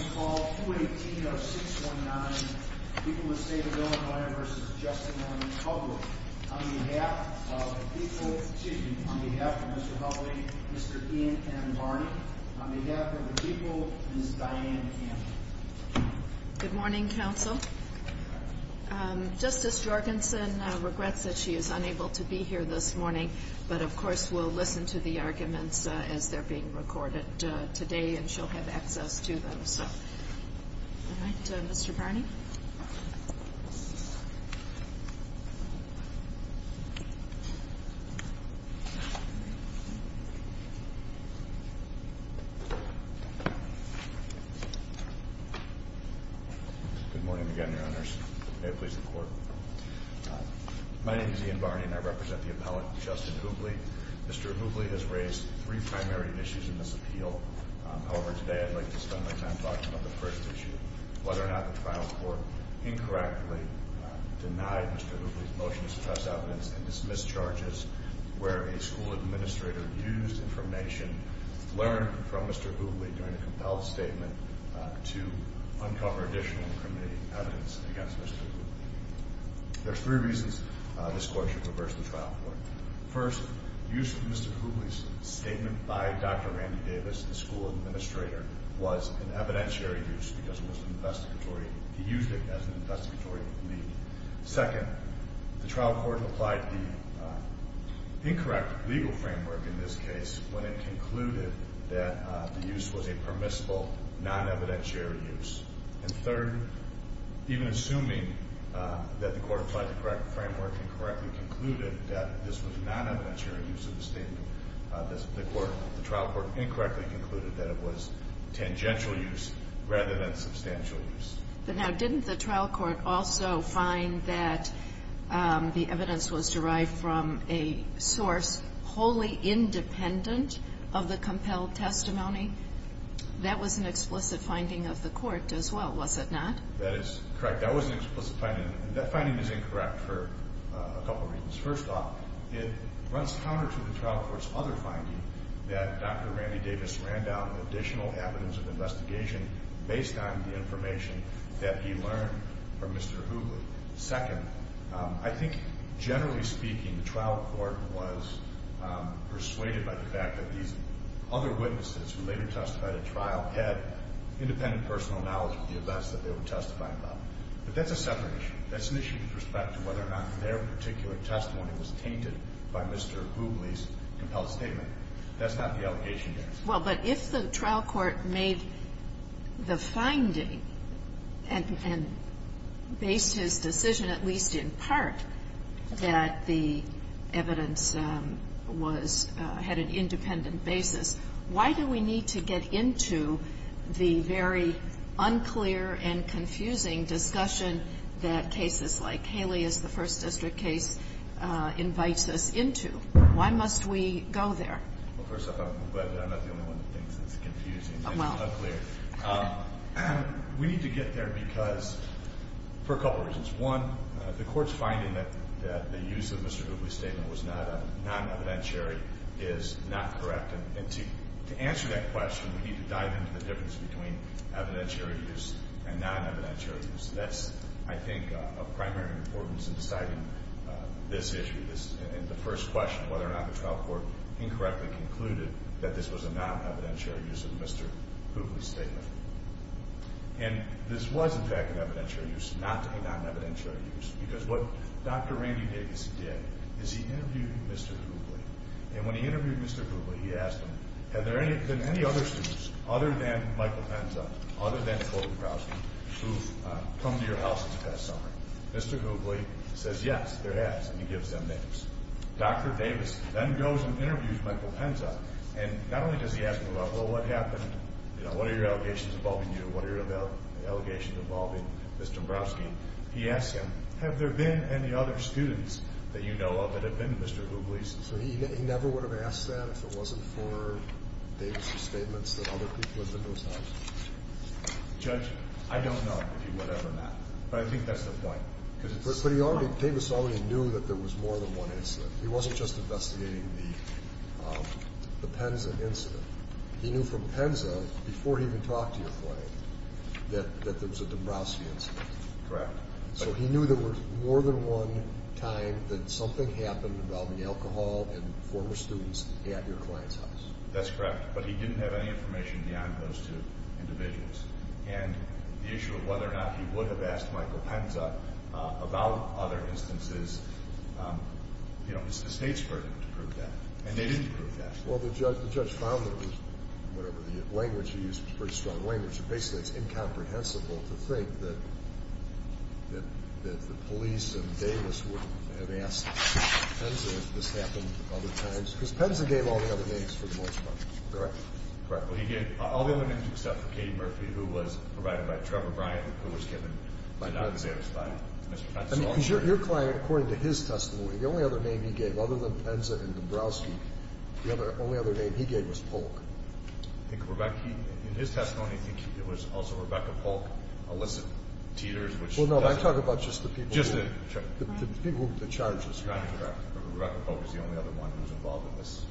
On call 218-0619, people of the state of Illinois v. Justin and Hubly, on behalf of the people, excuse me, on behalf of Mr. Hubly, Mr. Ian M. Barney, on behalf of the people, Ms. Diane Campbell. Good morning, counsel. Justice Jorgensen regrets that she is unable to be here this morning, but, of course, we'll listen to the arguments as they're being recorded today, and she'll have access to them. All right, Mr. Barney. Good morning again, Your Honors. May it please the Court. My name is Ian Barney, and I represent the appellate, Justin Hubly. Mr. Hubly has raised three primary issues in this appeal. However, today I'd like to spend my time talking about the first issue, whether or not the trial court incorrectly denied Mr. Hubly's motion to suppress evidence and dismiss charges, where a school administrator used information learned from Mr. Hubly during a compelled statement to uncover additional evidence against Mr. Hubly. There are three reasons this Court should reverse the trial court. First, use of Mr. Hubly's statement by Dr. Randy Davis, the school administrator, was an evidentiary use because he used it as an investigatory lead. Second, the trial court applied the incorrect legal framework in this case when it concluded that the use was a permissible, non-evidentiary use. And third, even assuming that the court applied the correct framework and correctly concluded that this was a non-evidentiary use of the statement, the trial court incorrectly concluded that it was tangential use rather than substantial use. But now, didn't the trial court also find that the evidence was derived from a source wholly independent of the compelled testimony? That was an explicit finding of the court as well, was it not? That is correct. That was an explicit finding. That finding is incorrect for a couple reasons. First off, it runs counter to the trial court's other finding that Dr. Randy Davis ran down additional evidence of investigation based on the information that he learned from Mr. Hubly. Second, I think generally speaking, the trial court was persuaded by the fact that these other witnesses who later testified at trial had independent personal knowledge of the events that they were testifying about. But that's a separate issue. That's an issue with respect to whether or not their particular testimony was tainted by Mr. Hubly's compelled statement. That's not the allegation here. Well, but if the trial court made the finding and based his decision, at least in part, that the evidence was at an independent basis, why do we need to get into the very unclear and confusing discussion that cases like Haley's, the First District case, invites us into? Why must we go there? Well, first off, I'm glad that I'm not the only one that thinks it's confusing and unclear. We need to get there because, for a couple reasons. One, the Court's finding that the use of Mr. Hubly's statement was non-evidentiary is not correct. And to answer that question, we need to dive into the difference between evidentiary use and non-evidentiary use. That's, I think, of primary importance in deciding this issue and the first question, whether or not the trial court incorrectly concluded that this was a non-evidentiary use of Mr. Hubly's statement. And this was, in fact, an evidentiary use, not a non-evidentiary use, because what Dr. Randy Davis did is he interviewed Mr. Hubly. And when he interviewed Mr. Hubly, he asked him, have there been any other students other than Michael Penza, other than Colton Browsky, who've come to your house this past summer? Mr. Hubly says, yes, there has, and he gives them names. Dr. Davis then goes and interviews Michael Penza, and not only does he ask him about, well, what happened, you know, what are your allegations involving you, what are your allegations involving Mr. Browsky? He asks him, have there been any other students that you know of that have been Mr. Hubly's? So he never would have asked that if it wasn't for Davis's statements that other people have been in those houses. Judge, I don't know if he would have or not, but I think that's the point. But Davis already knew that there was more than one incident. He wasn't just investigating the Penza incident. He knew from Penza, before he even talked to your client, that there was a Browsky incident. Correct. So he knew there was more than one time that something happened involving alcohol and former students at your client's house. That's correct, but he didn't have any information beyond those two individuals. And the issue of whether or not he would have asked Michael Penza about other instances, you know, it's the State's burden to prove that, and they didn't prove that. Well, the judge found that it was, whatever the language he used was a pretty strong language, and basically it's incomprehensible to think that the police and Davis would have asked Penza if this happened other times. Because Penza gave all the other names for the most part, correct? Correct. Well, he gave all the other names except for Katie Murphy, who was provided by Trevor Bryant, who was given to not satisfy Mr. Penza. I mean, your client, according to his testimony, the only other name he gave, other than Penza and Dombrowski, the only other name he gave was Polk. In his testimony, I think it was also Rebecca Polk, Alyssa Teeters. Well, no, I'm talking about just the people. Just the charges. Correct, correct. Rebecca Polk was the only other one who was involved in this.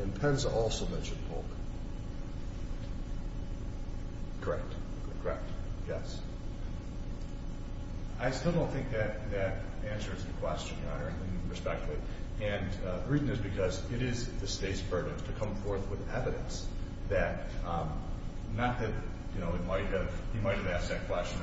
And Penza also mentioned Polk. Correct. Correct. Yes. I still don't think that answers the question, Your Honor, in respect to it. And the reason is because it is the State's burden to come forth with evidence that not that, you know, he might have asked that question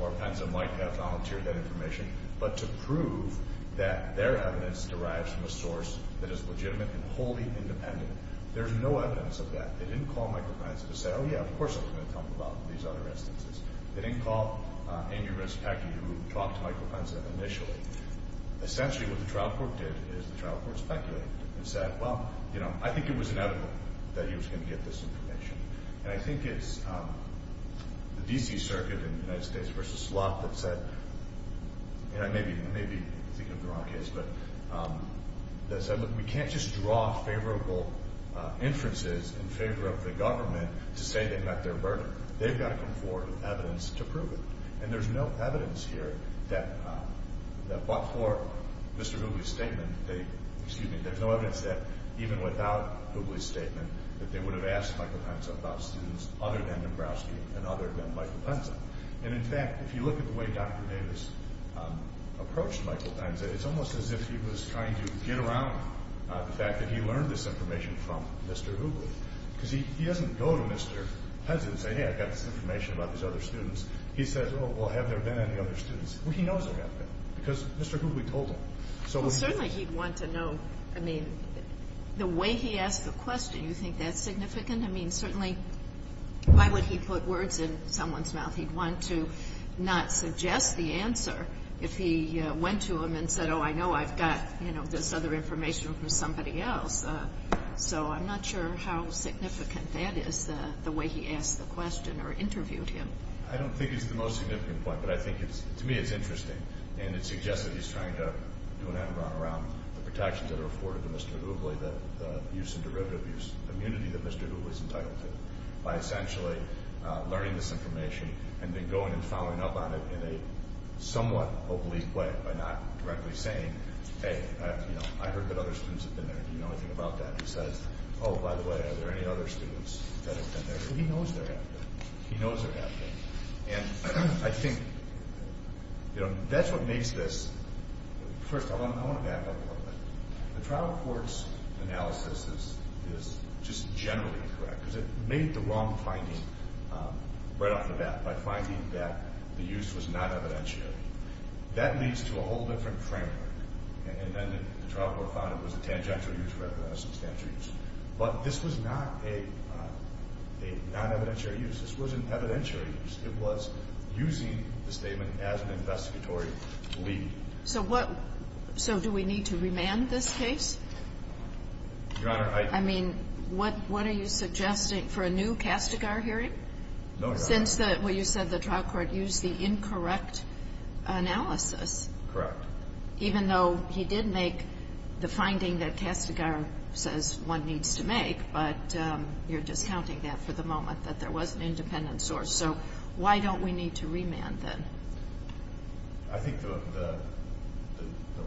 or Penza might have volunteered that information, but to prove that their evidence derives from a source that is legitimate and wholly independent. There's no evidence of that. They didn't call Michael Penza to say, oh, yeah, of course I'm going to talk about these other instances. They didn't call Amy Rispecki, who talked to Michael Penza initially. Essentially what the trial court did is the trial court speculated and said, well, you know, I think it was inevitable that he was going to get this information. And I think it's the D.C. Circuit in the United States v. Slot that said, and I may be thinking of the wrong case, but they said, look, we can't just draw favorable inferences in favor of the government to say they met their burden. They've got to come forward with evidence to prove it. And there's no evidence here that before Mr. Hooghly's statement, they, excuse me, there's no evidence that even without Hooghly's statement that they would have asked Michael Penza about students other than Dombrowski and other than Michael Penza. And, in fact, if you look at the way Dr. Davis approached Michael Penza, it's almost as if he was trying to get around the fact that he learned this information from Mr. Hooghly, because he doesn't go to Mr. Penza and say, hey, I've got this information about these other students. He says, oh, well, have there been any other students? Well, he knows there have been, because Mr. Hooghly told him. So what he did was ---- Well, certainly he'd want to know, I mean, the way he asked the question, you think that's significant? I mean, certainly why would he put words in someone's mouth? He'd want to not suggest the answer if he went to him and said, oh, I know I've got, you know, this other information from somebody else. So I'm not sure how significant that is, the way he asked the question or interviewed him. I don't think it's the most significant point, but I think it's ---- to me it's interesting, and it suggests that he's trying to do an end run around the protections that are afforded to Mr. Hooghly, the use and derivative use, the immunity that Mr. Hooghly is entitled to, by essentially learning this information and then going and following up on it in a somewhat oblique way by not directly saying, hey, you know, I heard that other students have been there. Do you know anything about that? He says, oh, by the way, are there any other students that have been there? He knows they're out there. He knows they're out there. And I think, you know, that's what makes this ---- first, I want to back up a little bit. The trial court's analysis is just generally incorrect because it made the wrong finding right off the bat by finding that the use was not evidentiary. That leads to a whole different framework. And then the trial court found it was a tangential use rather than a substantial use. But this was not a non-evidentiary use. This wasn't evidentiary use. It was using the statement as an investigatory lead. So what ---- so do we need to remand this case? Your Honor, I ---- I mean, what are you suggesting, for a new Castigar hearing? No, Your Honor. Since the ---- well, you said the trial court used the incorrect analysis. Correct. Even though he did make the finding that Castigar says one needs to make, but you're discounting that for the moment, that there was an independent source. So why don't we need to remand then? I think the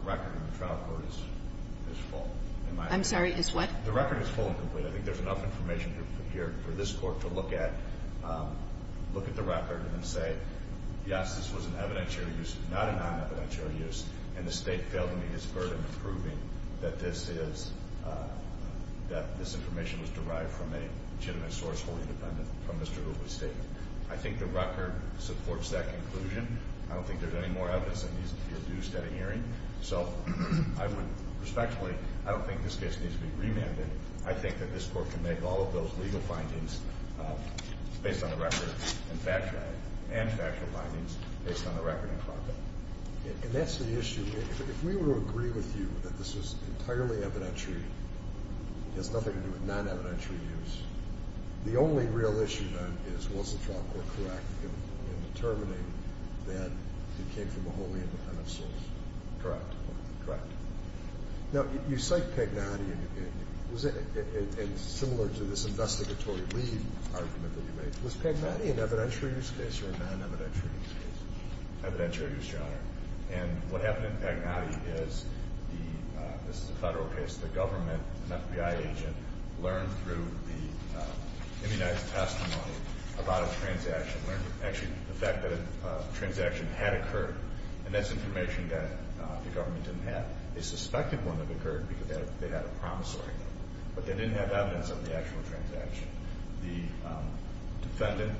record in the trial court is full. I'm sorry, is what? The record is full and complete. I think there's enough information here for this Court to look at, look at the record, and say, yes, this was an evidentiary use, not a non-evidentiary use, and the State failed to meet its burden of proving that this is ---- that this information was derived from a legitimate source, wholly independent from Mr. Hoover's statement. I think the record supports that conclusion. I don't think there's any more evidence that needs to be reduced at a hearing. So I would respectfully ---- I don't think this case needs to be remanded. I think that this Court can make all of those legal findings based on the record and factual findings based on the record in front of it. And that's the issue. If we were to agree with you that this was entirely evidentiary, it has nothing to do with non-evidentiary use, the only real issue then is, was the trial court correct in determining that it came from a wholly independent source? Correct. Correct. Now, you cite Pagnotti, and similar to this investigatory lead argument that you made, was Pagnotti an evidentiary use case or a non-evidentiary use case? Evidentiary use, Your Honor. And what happened in Pagnotti is the ---- this is a Federal case. The government, an FBI agent, learned through the immunized testimony about a transaction, learned actually the fact that a transaction had occurred, and that's information that the government didn't have. They suspected one had occurred because they had a promissory note, but they didn't have evidence of the actual transaction. The defendant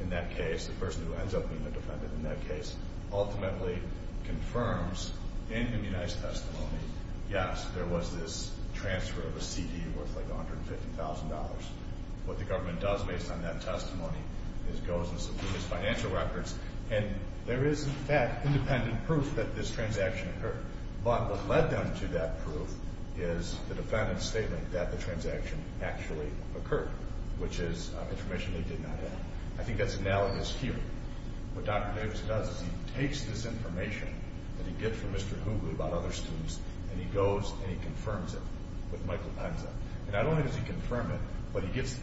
in that case, the person who ends up being the defendant in that case, ultimately confirms in immunized testimony, yes, there was this transfer of a CD worth like $150,000. What the government does based on that testimony is goes and subdues financial records, and there is, in fact, independent proof that this transaction occurred. But what led them to that proof is the defendant's statement that the transaction actually occurred, which is information they did not have. I think that's analogous here. What Dr. Davis does is he takes this information that he gets from Mr. Hoogley about other students, and he goes and he confirms it with Michael Penza. And not only does he confirm it, but he gets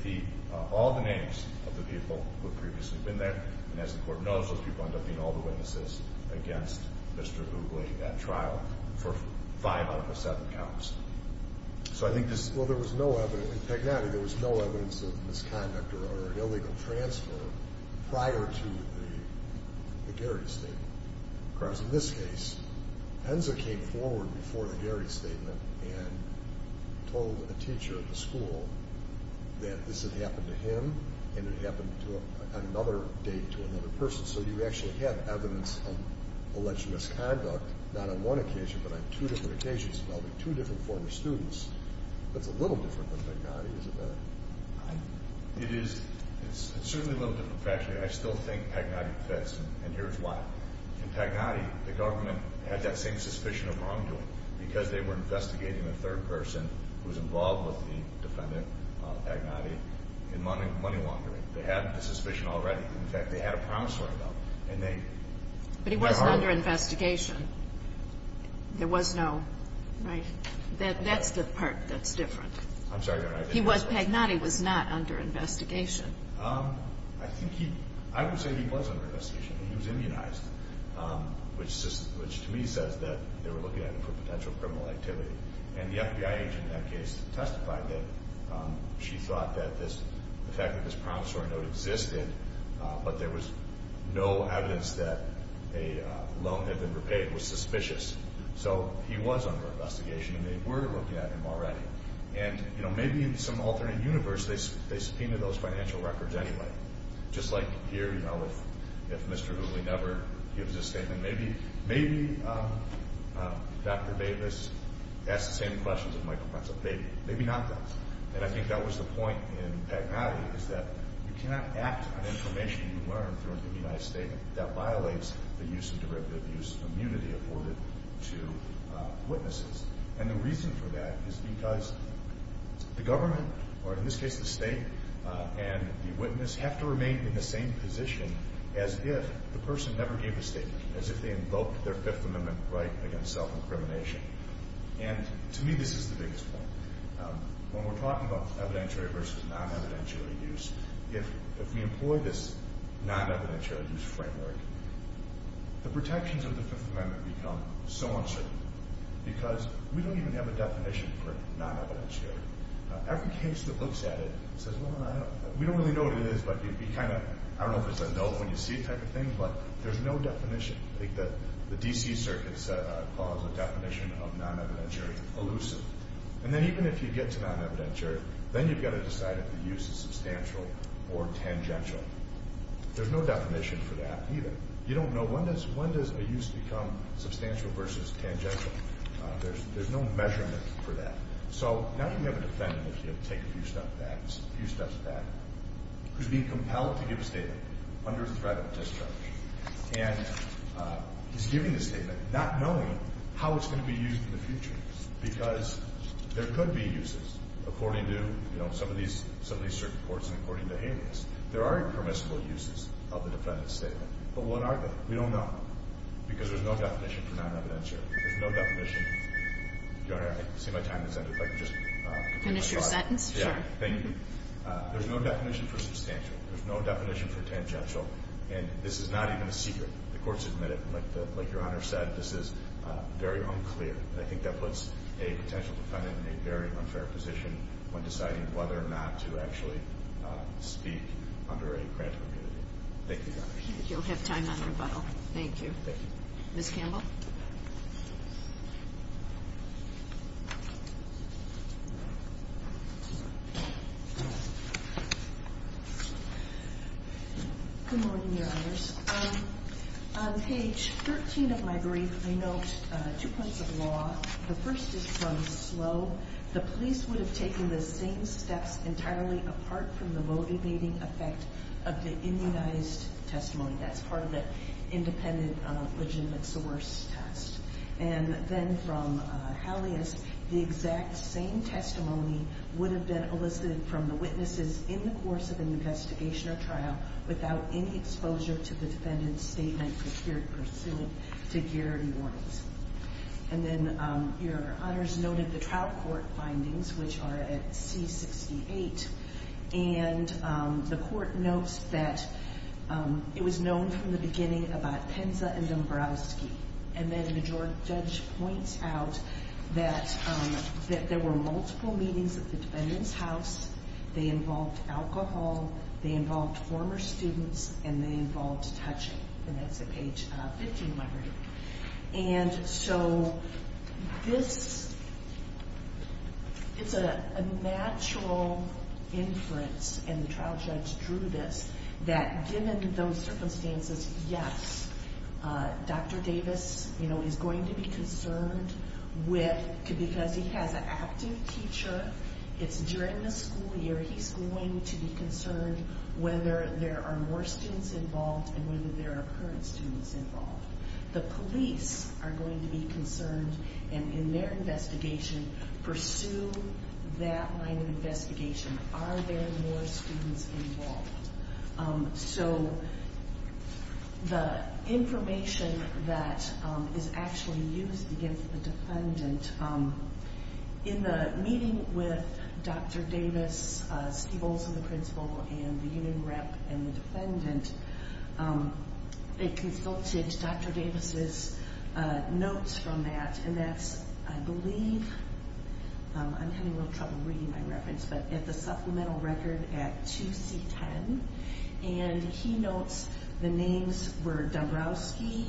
all the names of the people who had previously been there, and as the court knows, those people end up being all the witnesses against Mr. Hoogley at trial for five out of the seven counts. So I think this is... Well, there was no evidence. In Pagnotti, there was no evidence of misconduct or illegal transfer prior to the Garrity statement. Because in this case, Penza came forward before the Garrity statement and told a teacher at the school that this had happened to him and it happened on another date to another person. So you actually have evidence of alleged misconduct, not on one occasion, but on two different occasions involving two different former students. That's a little different than Pagnotti, isn't it? It is. It's certainly a little different. In fact, I still think Pagnotti confessed, and here's why. In Pagnotti, the government had that same suspicion of wrongdoing because they were investigating a third person who was involved with the defendant, Pagnotti, in money laundering. They had the suspicion already. In fact, they had a promissory note, and they... But he wasn't under investigation. There was no... That's the part that's different. I'm sorry, Your Honor. Pagnotti was not under investigation. I think he... I would say he was under investigation. He was immunized, which to me says that they were looking at him for potential criminal activity. And the FBI agent in that case testified that she thought that the fact that this promissory note existed, but there was no evidence that a loan had been repaid, was suspicious. So he was under investigation, and they were looking at him already. And, you know, maybe in some alternate universe they subpoenaed those financial records anyway. Just like here, you know, if Mr. Hooley never gives a statement, maybe Dr. Davis asked the same questions of Michael Prentzl. Maybe not that. And I think that was the point in Pagnotti is that you cannot act on information you learn through an immunized statement that violates the use and derivative use of immunity afforded to witnesses. And the reason for that is because the government, or in this case the state, and the witness have to remain in the same position as if the person never gave a statement, as if they invoked their Fifth Amendment right against self-incrimination. And to me this is the biggest point. When we're talking about evidentiary versus non-evidentiary use, if we employ this non-evidentiary use framework, the protections of the Fifth Amendment become so uncertain because we don't even have a definition for non-evidentiary. Every case that looks at it says, well, we don't really know what it is, but it would be kind of, I don't know if it's a note when you see it type of thing, but there's no definition. The D.C. Circuit calls the definition of non-evidentiary elusive. And then even if you get to non-evidentiary, then you've got to decide if the use is substantial or tangential. There's no definition for that either. You don't know when does a use become substantial versus tangential. There's no measurement for that. So now you have a defendant, if you take a few steps back, who's being compelled to give a statement under threat of discharge, and he's giving the statement not knowing how it's going to be used in the future because there could be uses according to some of these circuit courts and according to alias. There are impermissible uses of the defendant's statement. But what are they? We don't know because there's no definition for non-evidentiary. There's no definition. Your Honor, I see my time has ended. If I could just continue my thought. Finish your sentence? Sure. Thank you. There's no definition for substantial. There's no definition for tangential. And this is not even a secret. The courts admit it. Like Your Honor said, this is very unclear. And I think that puts a potential defendant in a very unfair position when deciding whether or not to actually speak under a granted immunity. Thank you, Your Honor. You'll have time on rebuttal. Thank you. Thank you. Ms. Campbell? Good morning, Your Honors. On page 13 of my brief, I note two points of law. The first is from Slobe. The police would have taken the same steps entirely apart from the motivating effect of the immunized testimony. That's part of the independent legitimate source test. And then from Hallius, the exact same testimony would have been elicited from the witnesses in the course of an investigation or trial without any exposure to the defendant's statement for peer pursuit to guarantee warnings. And then Your Honors noted the trial court findings, which are at C-68. And the court notes that it was known from the beginning about Penza and Dombrowski. And then the judge points out that there were multiple meetings at the defendant's house. They involved alcohol. They involved former students. And they involved touching. And that's at page 15 of my brief. And so this is a natural inference, and the trial judge drew this, that given those circumstances, yes, Dr. Davis, you know, is going to be concerned with, because he has an active teacher, it's during the school year, he's going to be concerned whether there are more students involved and whether there are current students involved. The police are going to be concerned, and in their investigation, pursue that line of investigation. Are there more students involved? So the information that is actually used against the defendant, in the meeting with Dr. Davis, Steve Olson, the principal, and the union rep and the defendant, they consulted Dr. Davis's notes from that, and that's, I believe, I'm having a little trouble reading my reference, but it's a supplemental record at 2C10, and he notes the names were Dombrowski,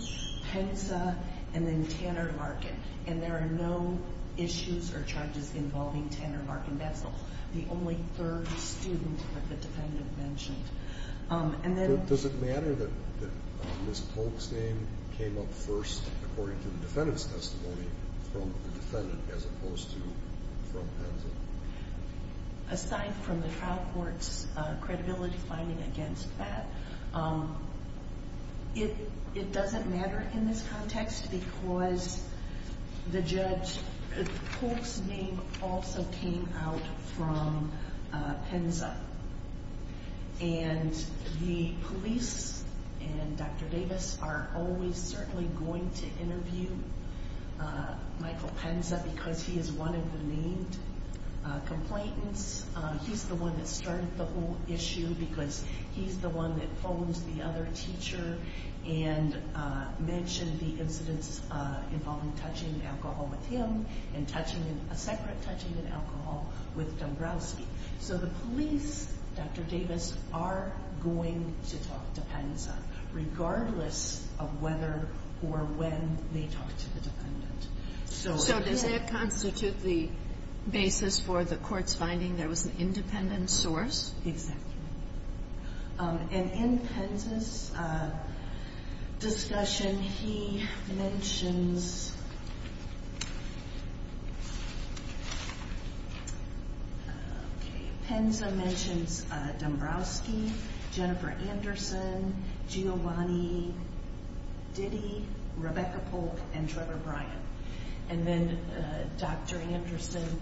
Penza, and then Tanner Markin. And there are no issues or charges involving Tanner Markin. That's the only third student that the defendant mentioned. Does it matter that Ms. Polk's name came up first, according to the defendant's testimony, from the defendant as opposed to from Penza? Aside from the trial court's credibility finding against that, it doesn't matter in this context, because the judge, Polk's name also came out from Penza. And the police and Dr. Davis are always certainly going to interview Michael Penza, because he is one of the main complainants. He's the one that started the whole issue, because he's the one that phones the other teacher and mentioned the incidents involving touching alcohol with him and a separate touching of alcohol with Dombrowski. So the police, Dr. Davis, are going to talk to Penza, regardless of whether or when they talk to the defendant. So does that constitute the basis for the court's finding there was an independent source? Exactly. And in Penza's discussion, he mentions... Penza mentions Dombrowski, Jennifer Anderson, Giovanni Diddy, Rebecca Polk, and Trevor Bryan. And then Dr. Anderson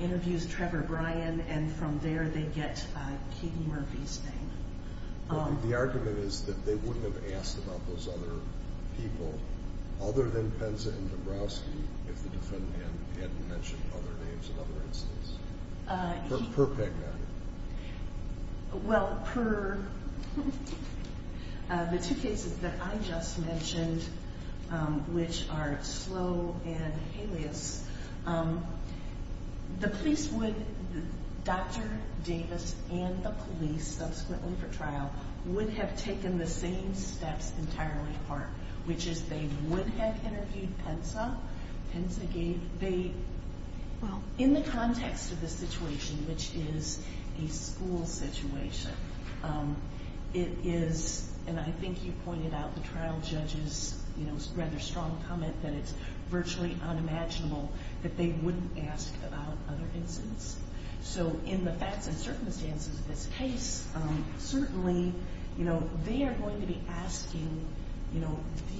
interviews Trevor Bryan, and from there they get Keegan Murphy's name. The argument is that they wouldn't have asked about those other people other than Penza and Dombrowski if the defendant hadn't mentioned other names and other incidents, per peg matter. Well, per the two cases that I just mentioned, which are Slow and Halleas, the police would... Dr. Davis and the police, subsequently for trial, would have taken the same steps entirely apart, which is they would have interviewed Penza. Well, in the context of the situation, which is a school situation, it is, and I think you pointed out the trial judge's rather strong comment that it's virtually unimaginable that they wouldn't ask about other incidents. So in the facts and circumstances of this case, certainly they are going to be asking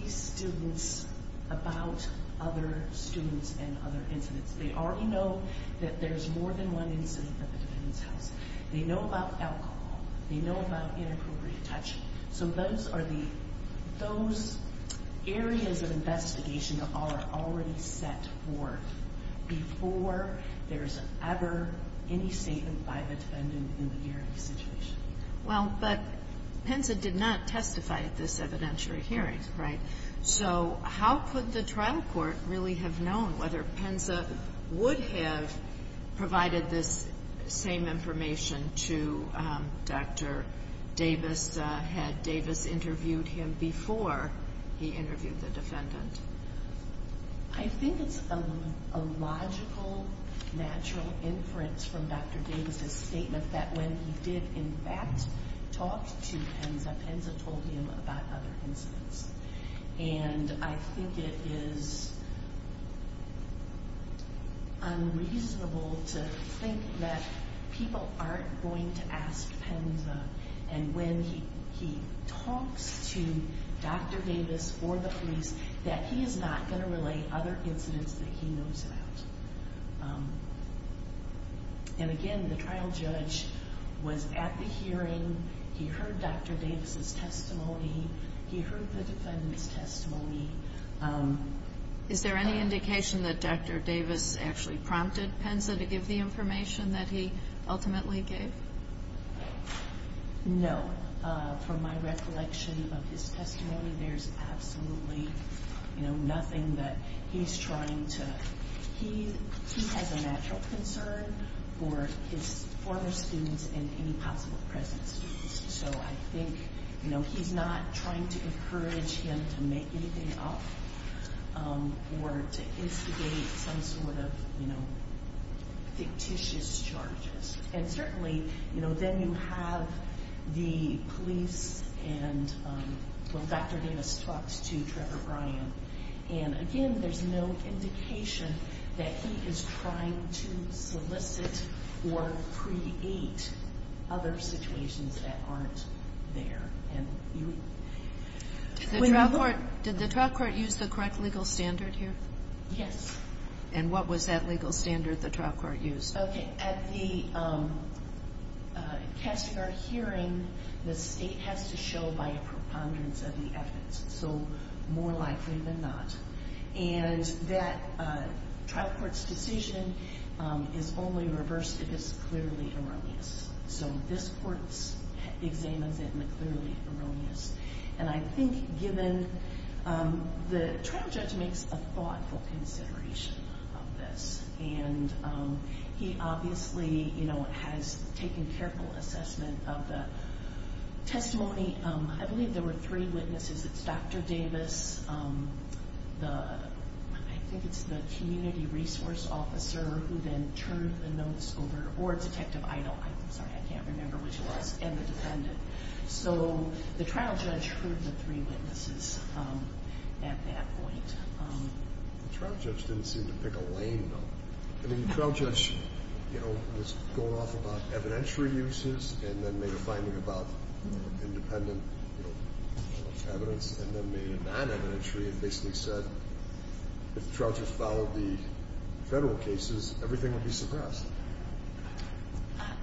these students about other students and other incidents. They already know that there's more than one incident at the defendant's house. They know about alcohol. They know about inappropriate touching. So those areas of investigation are already set forth before there's ever any statement by the defendant in the year of the situation. Well, but Penza did not testify at this evidentiary hearing, right? So how could the trial court really have known whether Penza would have provided this same information to Dr. Davis had Davis interviewed him before he interviewed the defendant? I think it's a logical, natural inference from Dr. Davis' statement that when he did in fact talk to Penza, Penza told him about other incidents. And I think it is unreasonable to think that people aren't going to ask Penza and when he talks to Dr. Davis or the police that he is not going to relay other incidents that he knows about. And again, the trial judge was at the hearing. He heard Dr. Davis' testimony. He heard the defendant's testimony. Is there any indication that Dr. Davis actually prompted Penza to give the information that he ultimately gave? No. From my recollection of his testimony, there's absolutely nothing that he's trying to – he has a natural concern for his former students and any possible present students. So I think he's not trying to encourage him to make anything up or to instigate some sort of fictitious charges. And certainly, you know, then you have the police and when Dr. Davis talks to Trevor Bryan. And again, there's no indication that he is trying to solicit or create other situations that aren't there. Did the trial court use the correct legal standard here? Yes. And what was that legal standard the trial court used? Okay. At the Castigar hearing, the state has to show by a preponderance of the evidence. So more likely than not. And that trial court's decision is only reversed if it's clearly erroneous. So this court examines it and it's clearly erroneous. And I think given – the trial judge makes a thoughtful consideration of this. And he obviously, you know, has taken careful assessment of the testimony. I believe there were three witnesses. It's Dr. Davis, the – I think it's the community resource officer who then turned the notes over, or Detective Idol. I'm sorry, I can't remember which it was. And the defendant. So the trial judge heard the three witnesses at that point. The trial judge didn't seem to pick a lane, though. I mean, the trial judge, you know, was going off about evidentiary uses and then made a finding about independent evidence and then made a non-evidentiary and basically said if the trial judge followed the federal cases, everything would be suppressed.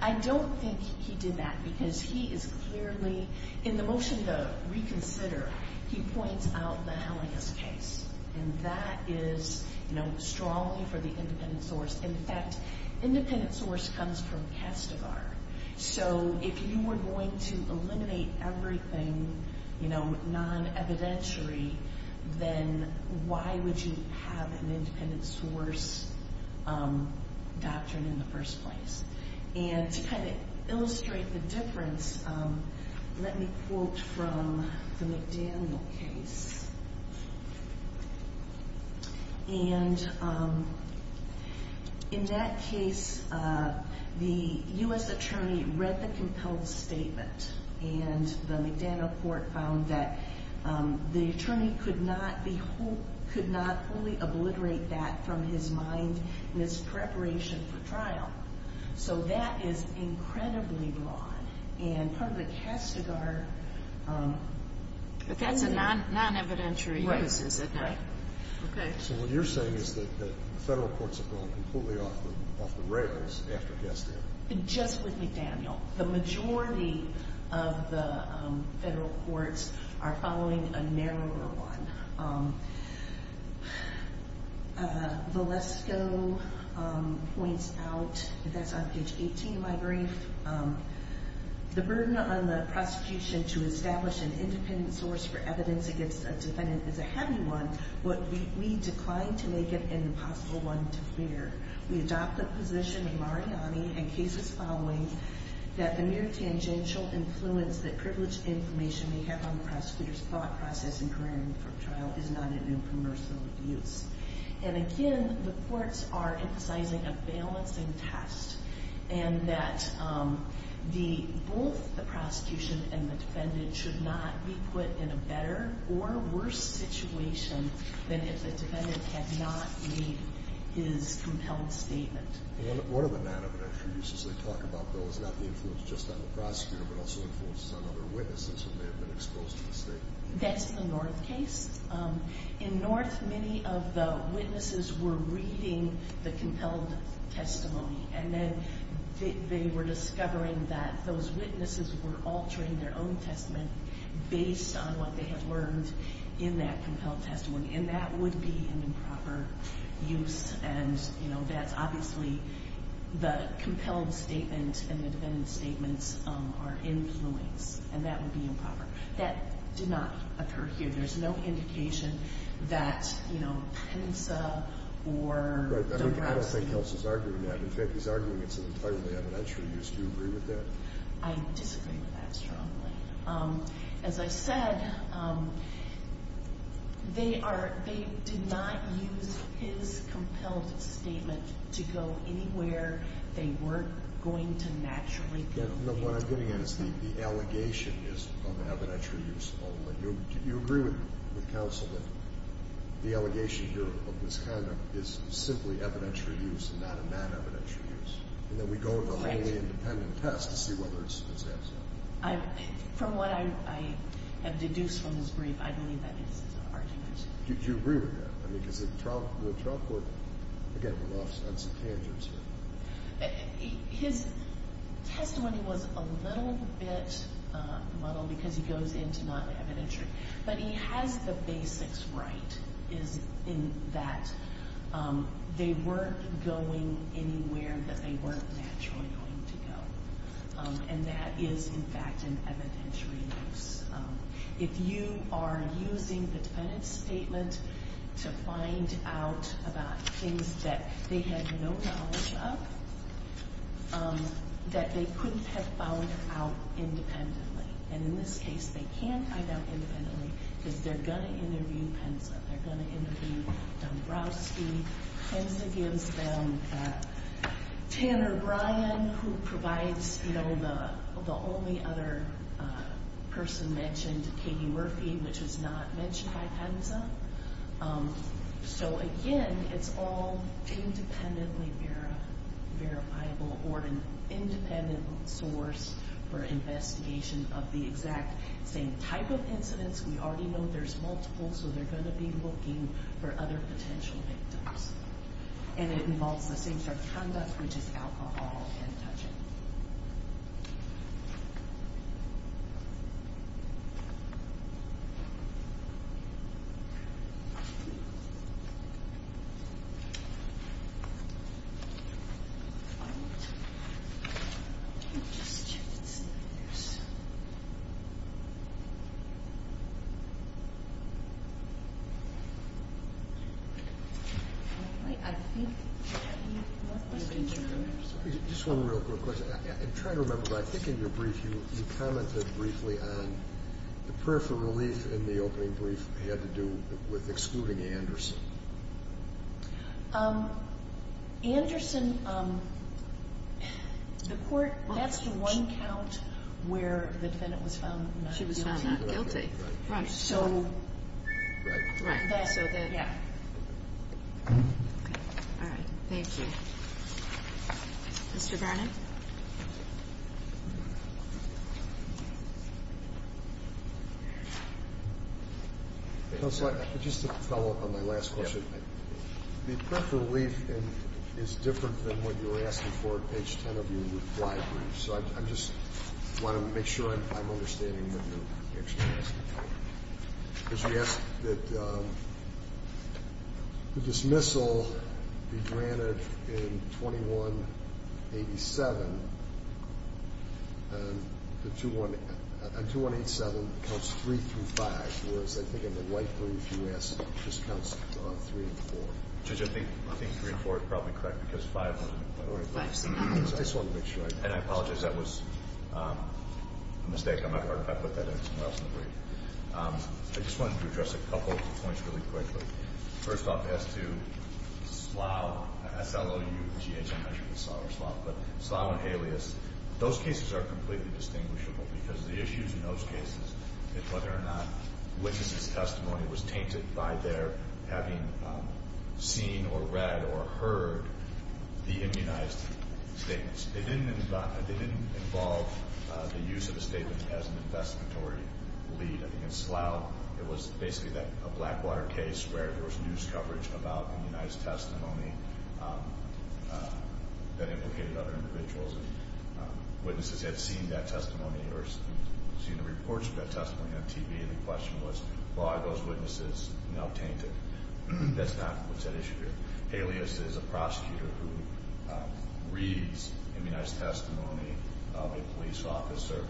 I don't think he did that because he is clearly – in the motion to reconsider, he points out the Hellingist case. And that is, you know, strongly for the independent source. In fact, independent source comes from Kastigar. So if you were going to eliminate everything, you know, non-evidentiary, then why would you have an independent source doctrine in the first place? And to kind of illustrate the difference, let me quote from the McDaniel case. And in that case, the U.S. attorney read the compelled statement, and the McDaniel court found that the attorney could not wholly obliterate that from his mind in his preparation for trial. So that is incredibly broad. And part of the Kastigar – But that's a non-evidentiary use, is it not? Right. Right. Okay. So what you're saying is that the federal courts have gone completely off the rails after Kastigar. Just with McDaniel. The majority of the federal courts are following a narrower one. Valesko points out – that's on page 18 of my brief – the burden on the prosecution to establish an independent source for evidence against a defendant is a heavy one. We decline to make it an impossible one to bear. We adopt the position in Mariani and cases following that the near-tangential influence that privileged information may have on the prosecutor's thought process in preparing for trial is not a new commercial use. And again, the courts are emphasizing a balancing test, and that both the prosecution and the defendant should not be put in a better or worse situation than if the defendant had not made his compelled statement. One of the non-evidentiary uses they talk about, though, is not the influence just on the prosecutor, but also influences on other witnesses who may have been exposed to the statement. That's the North case. In North, many of the witnesses were reading the compelled testimony, and then they were discovering that those witnesses were altering their own testament based on what they had learned in that compelled testimony. And that would be an improper use. And, you know, that's obviously the compelled statement and the defendant's statements are influence, and that would be improper. That did not occur here. There's no indication that, you know, Penza or Dombrowski. Right. I don't think Nelson's arguing that. In fact, he's arguing it's an entirely evidentiary use. Do you agree with that? I disagree with that strongly. As I said, they did not use his compelled statement to go anywhere. They weren't going to naturally go anywhere. What I'm getting at is the allegation is of evidentiary use only. Do you agree with counsel that the allegation here of misconduct is simply evidentiary use and not a non-evidentiary use? Right. And that we go with a wholly independent test to see whether it's absolute? From what I have deduced from his brief, I believe that this is an argument. Do you agree with that? I mean, because the trial court, again, we lost on some tangents here. His testimony was a little bit muddled because he goes into non-evidentiary. But he has the basics right in that they weren't going anywhere that they weren't naturally going to go. And that is, in fact, an evidentiary use. If you are using the defendant's statement to find out about things that they had no knowledge of, that they couldn't have found out independently. And in this case, they can't find out independently because they're going to interview Penza. They're going to interview Dombrowski. Penza gives them Tanner Bryan, who provides the only other person mentioned, Katie Murphy, which was not mentioned by Penza. So, again, it's all independently verifiable or an independent source for investigation of the exact same type of incidents. We already know there's multiple, so they're going to be looking for other potential victims. And it involves the same type of conduct, which is alcohol and touching. I think we have more questions. Just one real quick question. I'm trying to remember, but I think in your brief you commented briefly on the prayer for relief in the opening brief had to do with excluding Anderson. Anderson, the court, that's the one count where the defendant was found not guilty. She was found not guilty. Right. So. Right. Right. Yeah. All right. Thank you. Mr. Garnett. Counsel, just to follow up on my last question. The prayer for relief is different than what you were asking for at page 10 of your reply brief. So I just want to make sure I'm understanding what you're actually asking for. Because you asked that the dismissal be granted in 2187, and 2187 counts 3 through 5, whereas I think in the white brief you asked it just counts 3 and 4. Judge, I think 3 and 4 is probably correct because 5 wasn't. I just want to make sure I understand. And I apologize. That was a mistake on my part if I put that in somewhere else in the brief. I just wanted to address a couple points really quickly. First off, as to Slough, S-L-O-U-G-H, I'm not sure if it's Slough or Slough, but Slough and Haleas, those cases are completely distinguishable because the issues in those cases is whether or not witnesses' testimony was tainted by their having seen or read or heard the immunized statements. They didn't involve the use of a statement as an investigatory lead. I think in Slough, it was basically a Blackwater case where there was news coverage about immunized testimony that implicated other individuals. Witnesses had seen that testimony or seen the reports of that testimony on TV, and the question was, well, are those witnesses now tainted? That's not what's at issue here. Haleas is a prosecutor who reads immunized testimony of a police officer.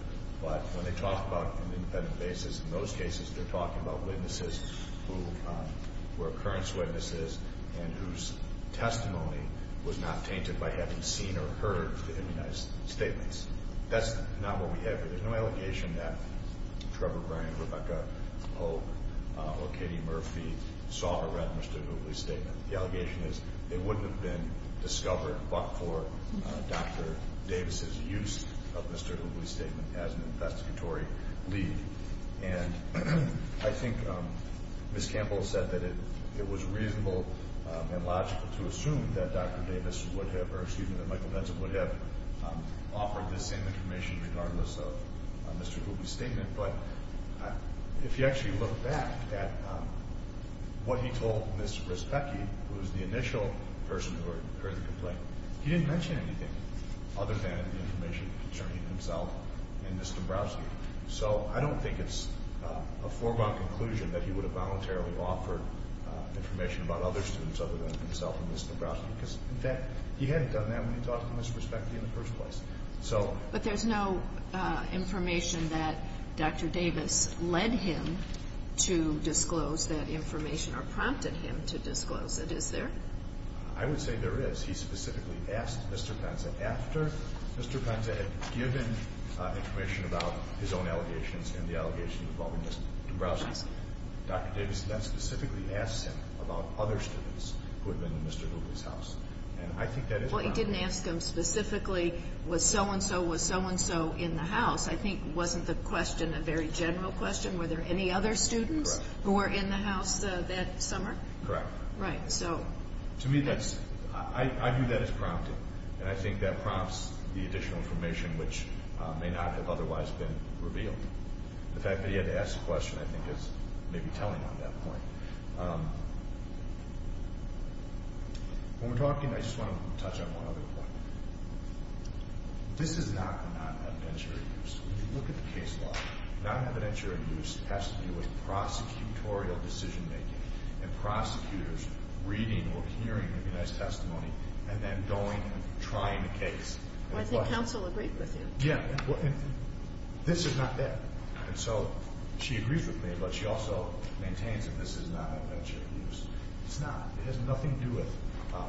But when they talk about an independent basis in those cases, they're talking about witnesses who were occurrence witnesses and whose testimony was not tainted by having seen or heard the immunized statements. That's not what we have here. There's no allegation that Trevor Graham, Rebecca Pope, or Katie Murphy saw or read Mr. Googly's statement. The allegation is they wouldn't have been discovered but for Dr. Davis' use of Mr. Googly's statement as an investigatory lead. And I think Ms. Campbell said that it was reasonable and logical to assume that Dr. Davis would have or, excuse me, that Michael Benson would have offered this same information regardless of Mr. Googly's statement. But if you actually look back at what he told Ms. Rispecki, who was the initial person who heard the complaint, he didn't mention anything other than the information concerning himself and Ms. Dombrowski. So I don't think it's a foregone conclusion that he would have voluntarily offered information about other students other than himself and Ms. Dombrowski because, in fact, he hadn't done that when he talked to Ms. Rispecki in the first place. But there's no information that Dr. Davis led him to disclose that information or prompted him to disclose it, is there? I would say there is. He specifically asked Mr. Penza after Mr. Penza had given information about his own allegations and the allegations involving Ms. Dombrowski. Dr. Davis then specifically asked him about other students who had been in Mr. Googly's house. Well, he didn't ask him specifically, was so-and-so, was so-and-so in the house? I think it wasn't the question, a very general question. Were there any other students who were in the house that summer? Correct. Right. To me, I view that as prompting, and I think that prompts the additional information which may not have otherwise been revealed. The fact that he had to ask the question, I think, is maybe telling on that point. When we're talking, I just want to touch on one other point. This is not the non-evidentiary use. When you look at the case law, non-evidentiary use has to do with prosecutorial decision-making and prosecutors reading or hearing the witness testimony and then going and trying the case. I think counsel agreed with you. Yeah. This is not that. And so she agrees with me, but she also maintains that this is non-evidentiary use. It's not. It has nothing to do with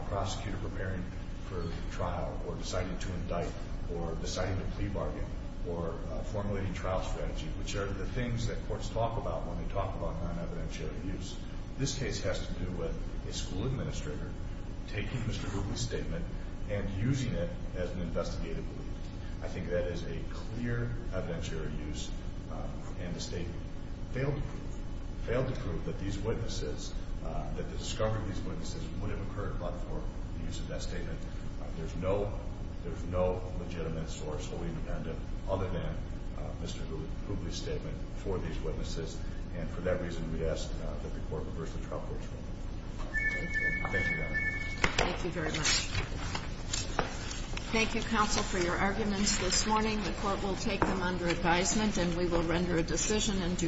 prosecutor preparing for trial or deciding to indict or deciding to plea bargain or formulating trial strategy, which are the things that courts talk about when they talk about non-evidentiary use. This case has to do with a school administrator taking Mr. Googly's statement and using it as an investigative lead. I think that is a clear evidentiary use, and the State failed to prove that these witnesses, that the discovery of these witnesses would have occurred but for the use of that statement. There's no legitimate source wholly independent other than Mr. Googly's statement for these witnesses, and for that reason we ask that the Court reverse the trial court's ruling. Thank you. Thank you, Your Honor. Thank you very much. Thank you, counsel, for your arguments this morning. The Court will take them under advisement and we will render a decision in due course.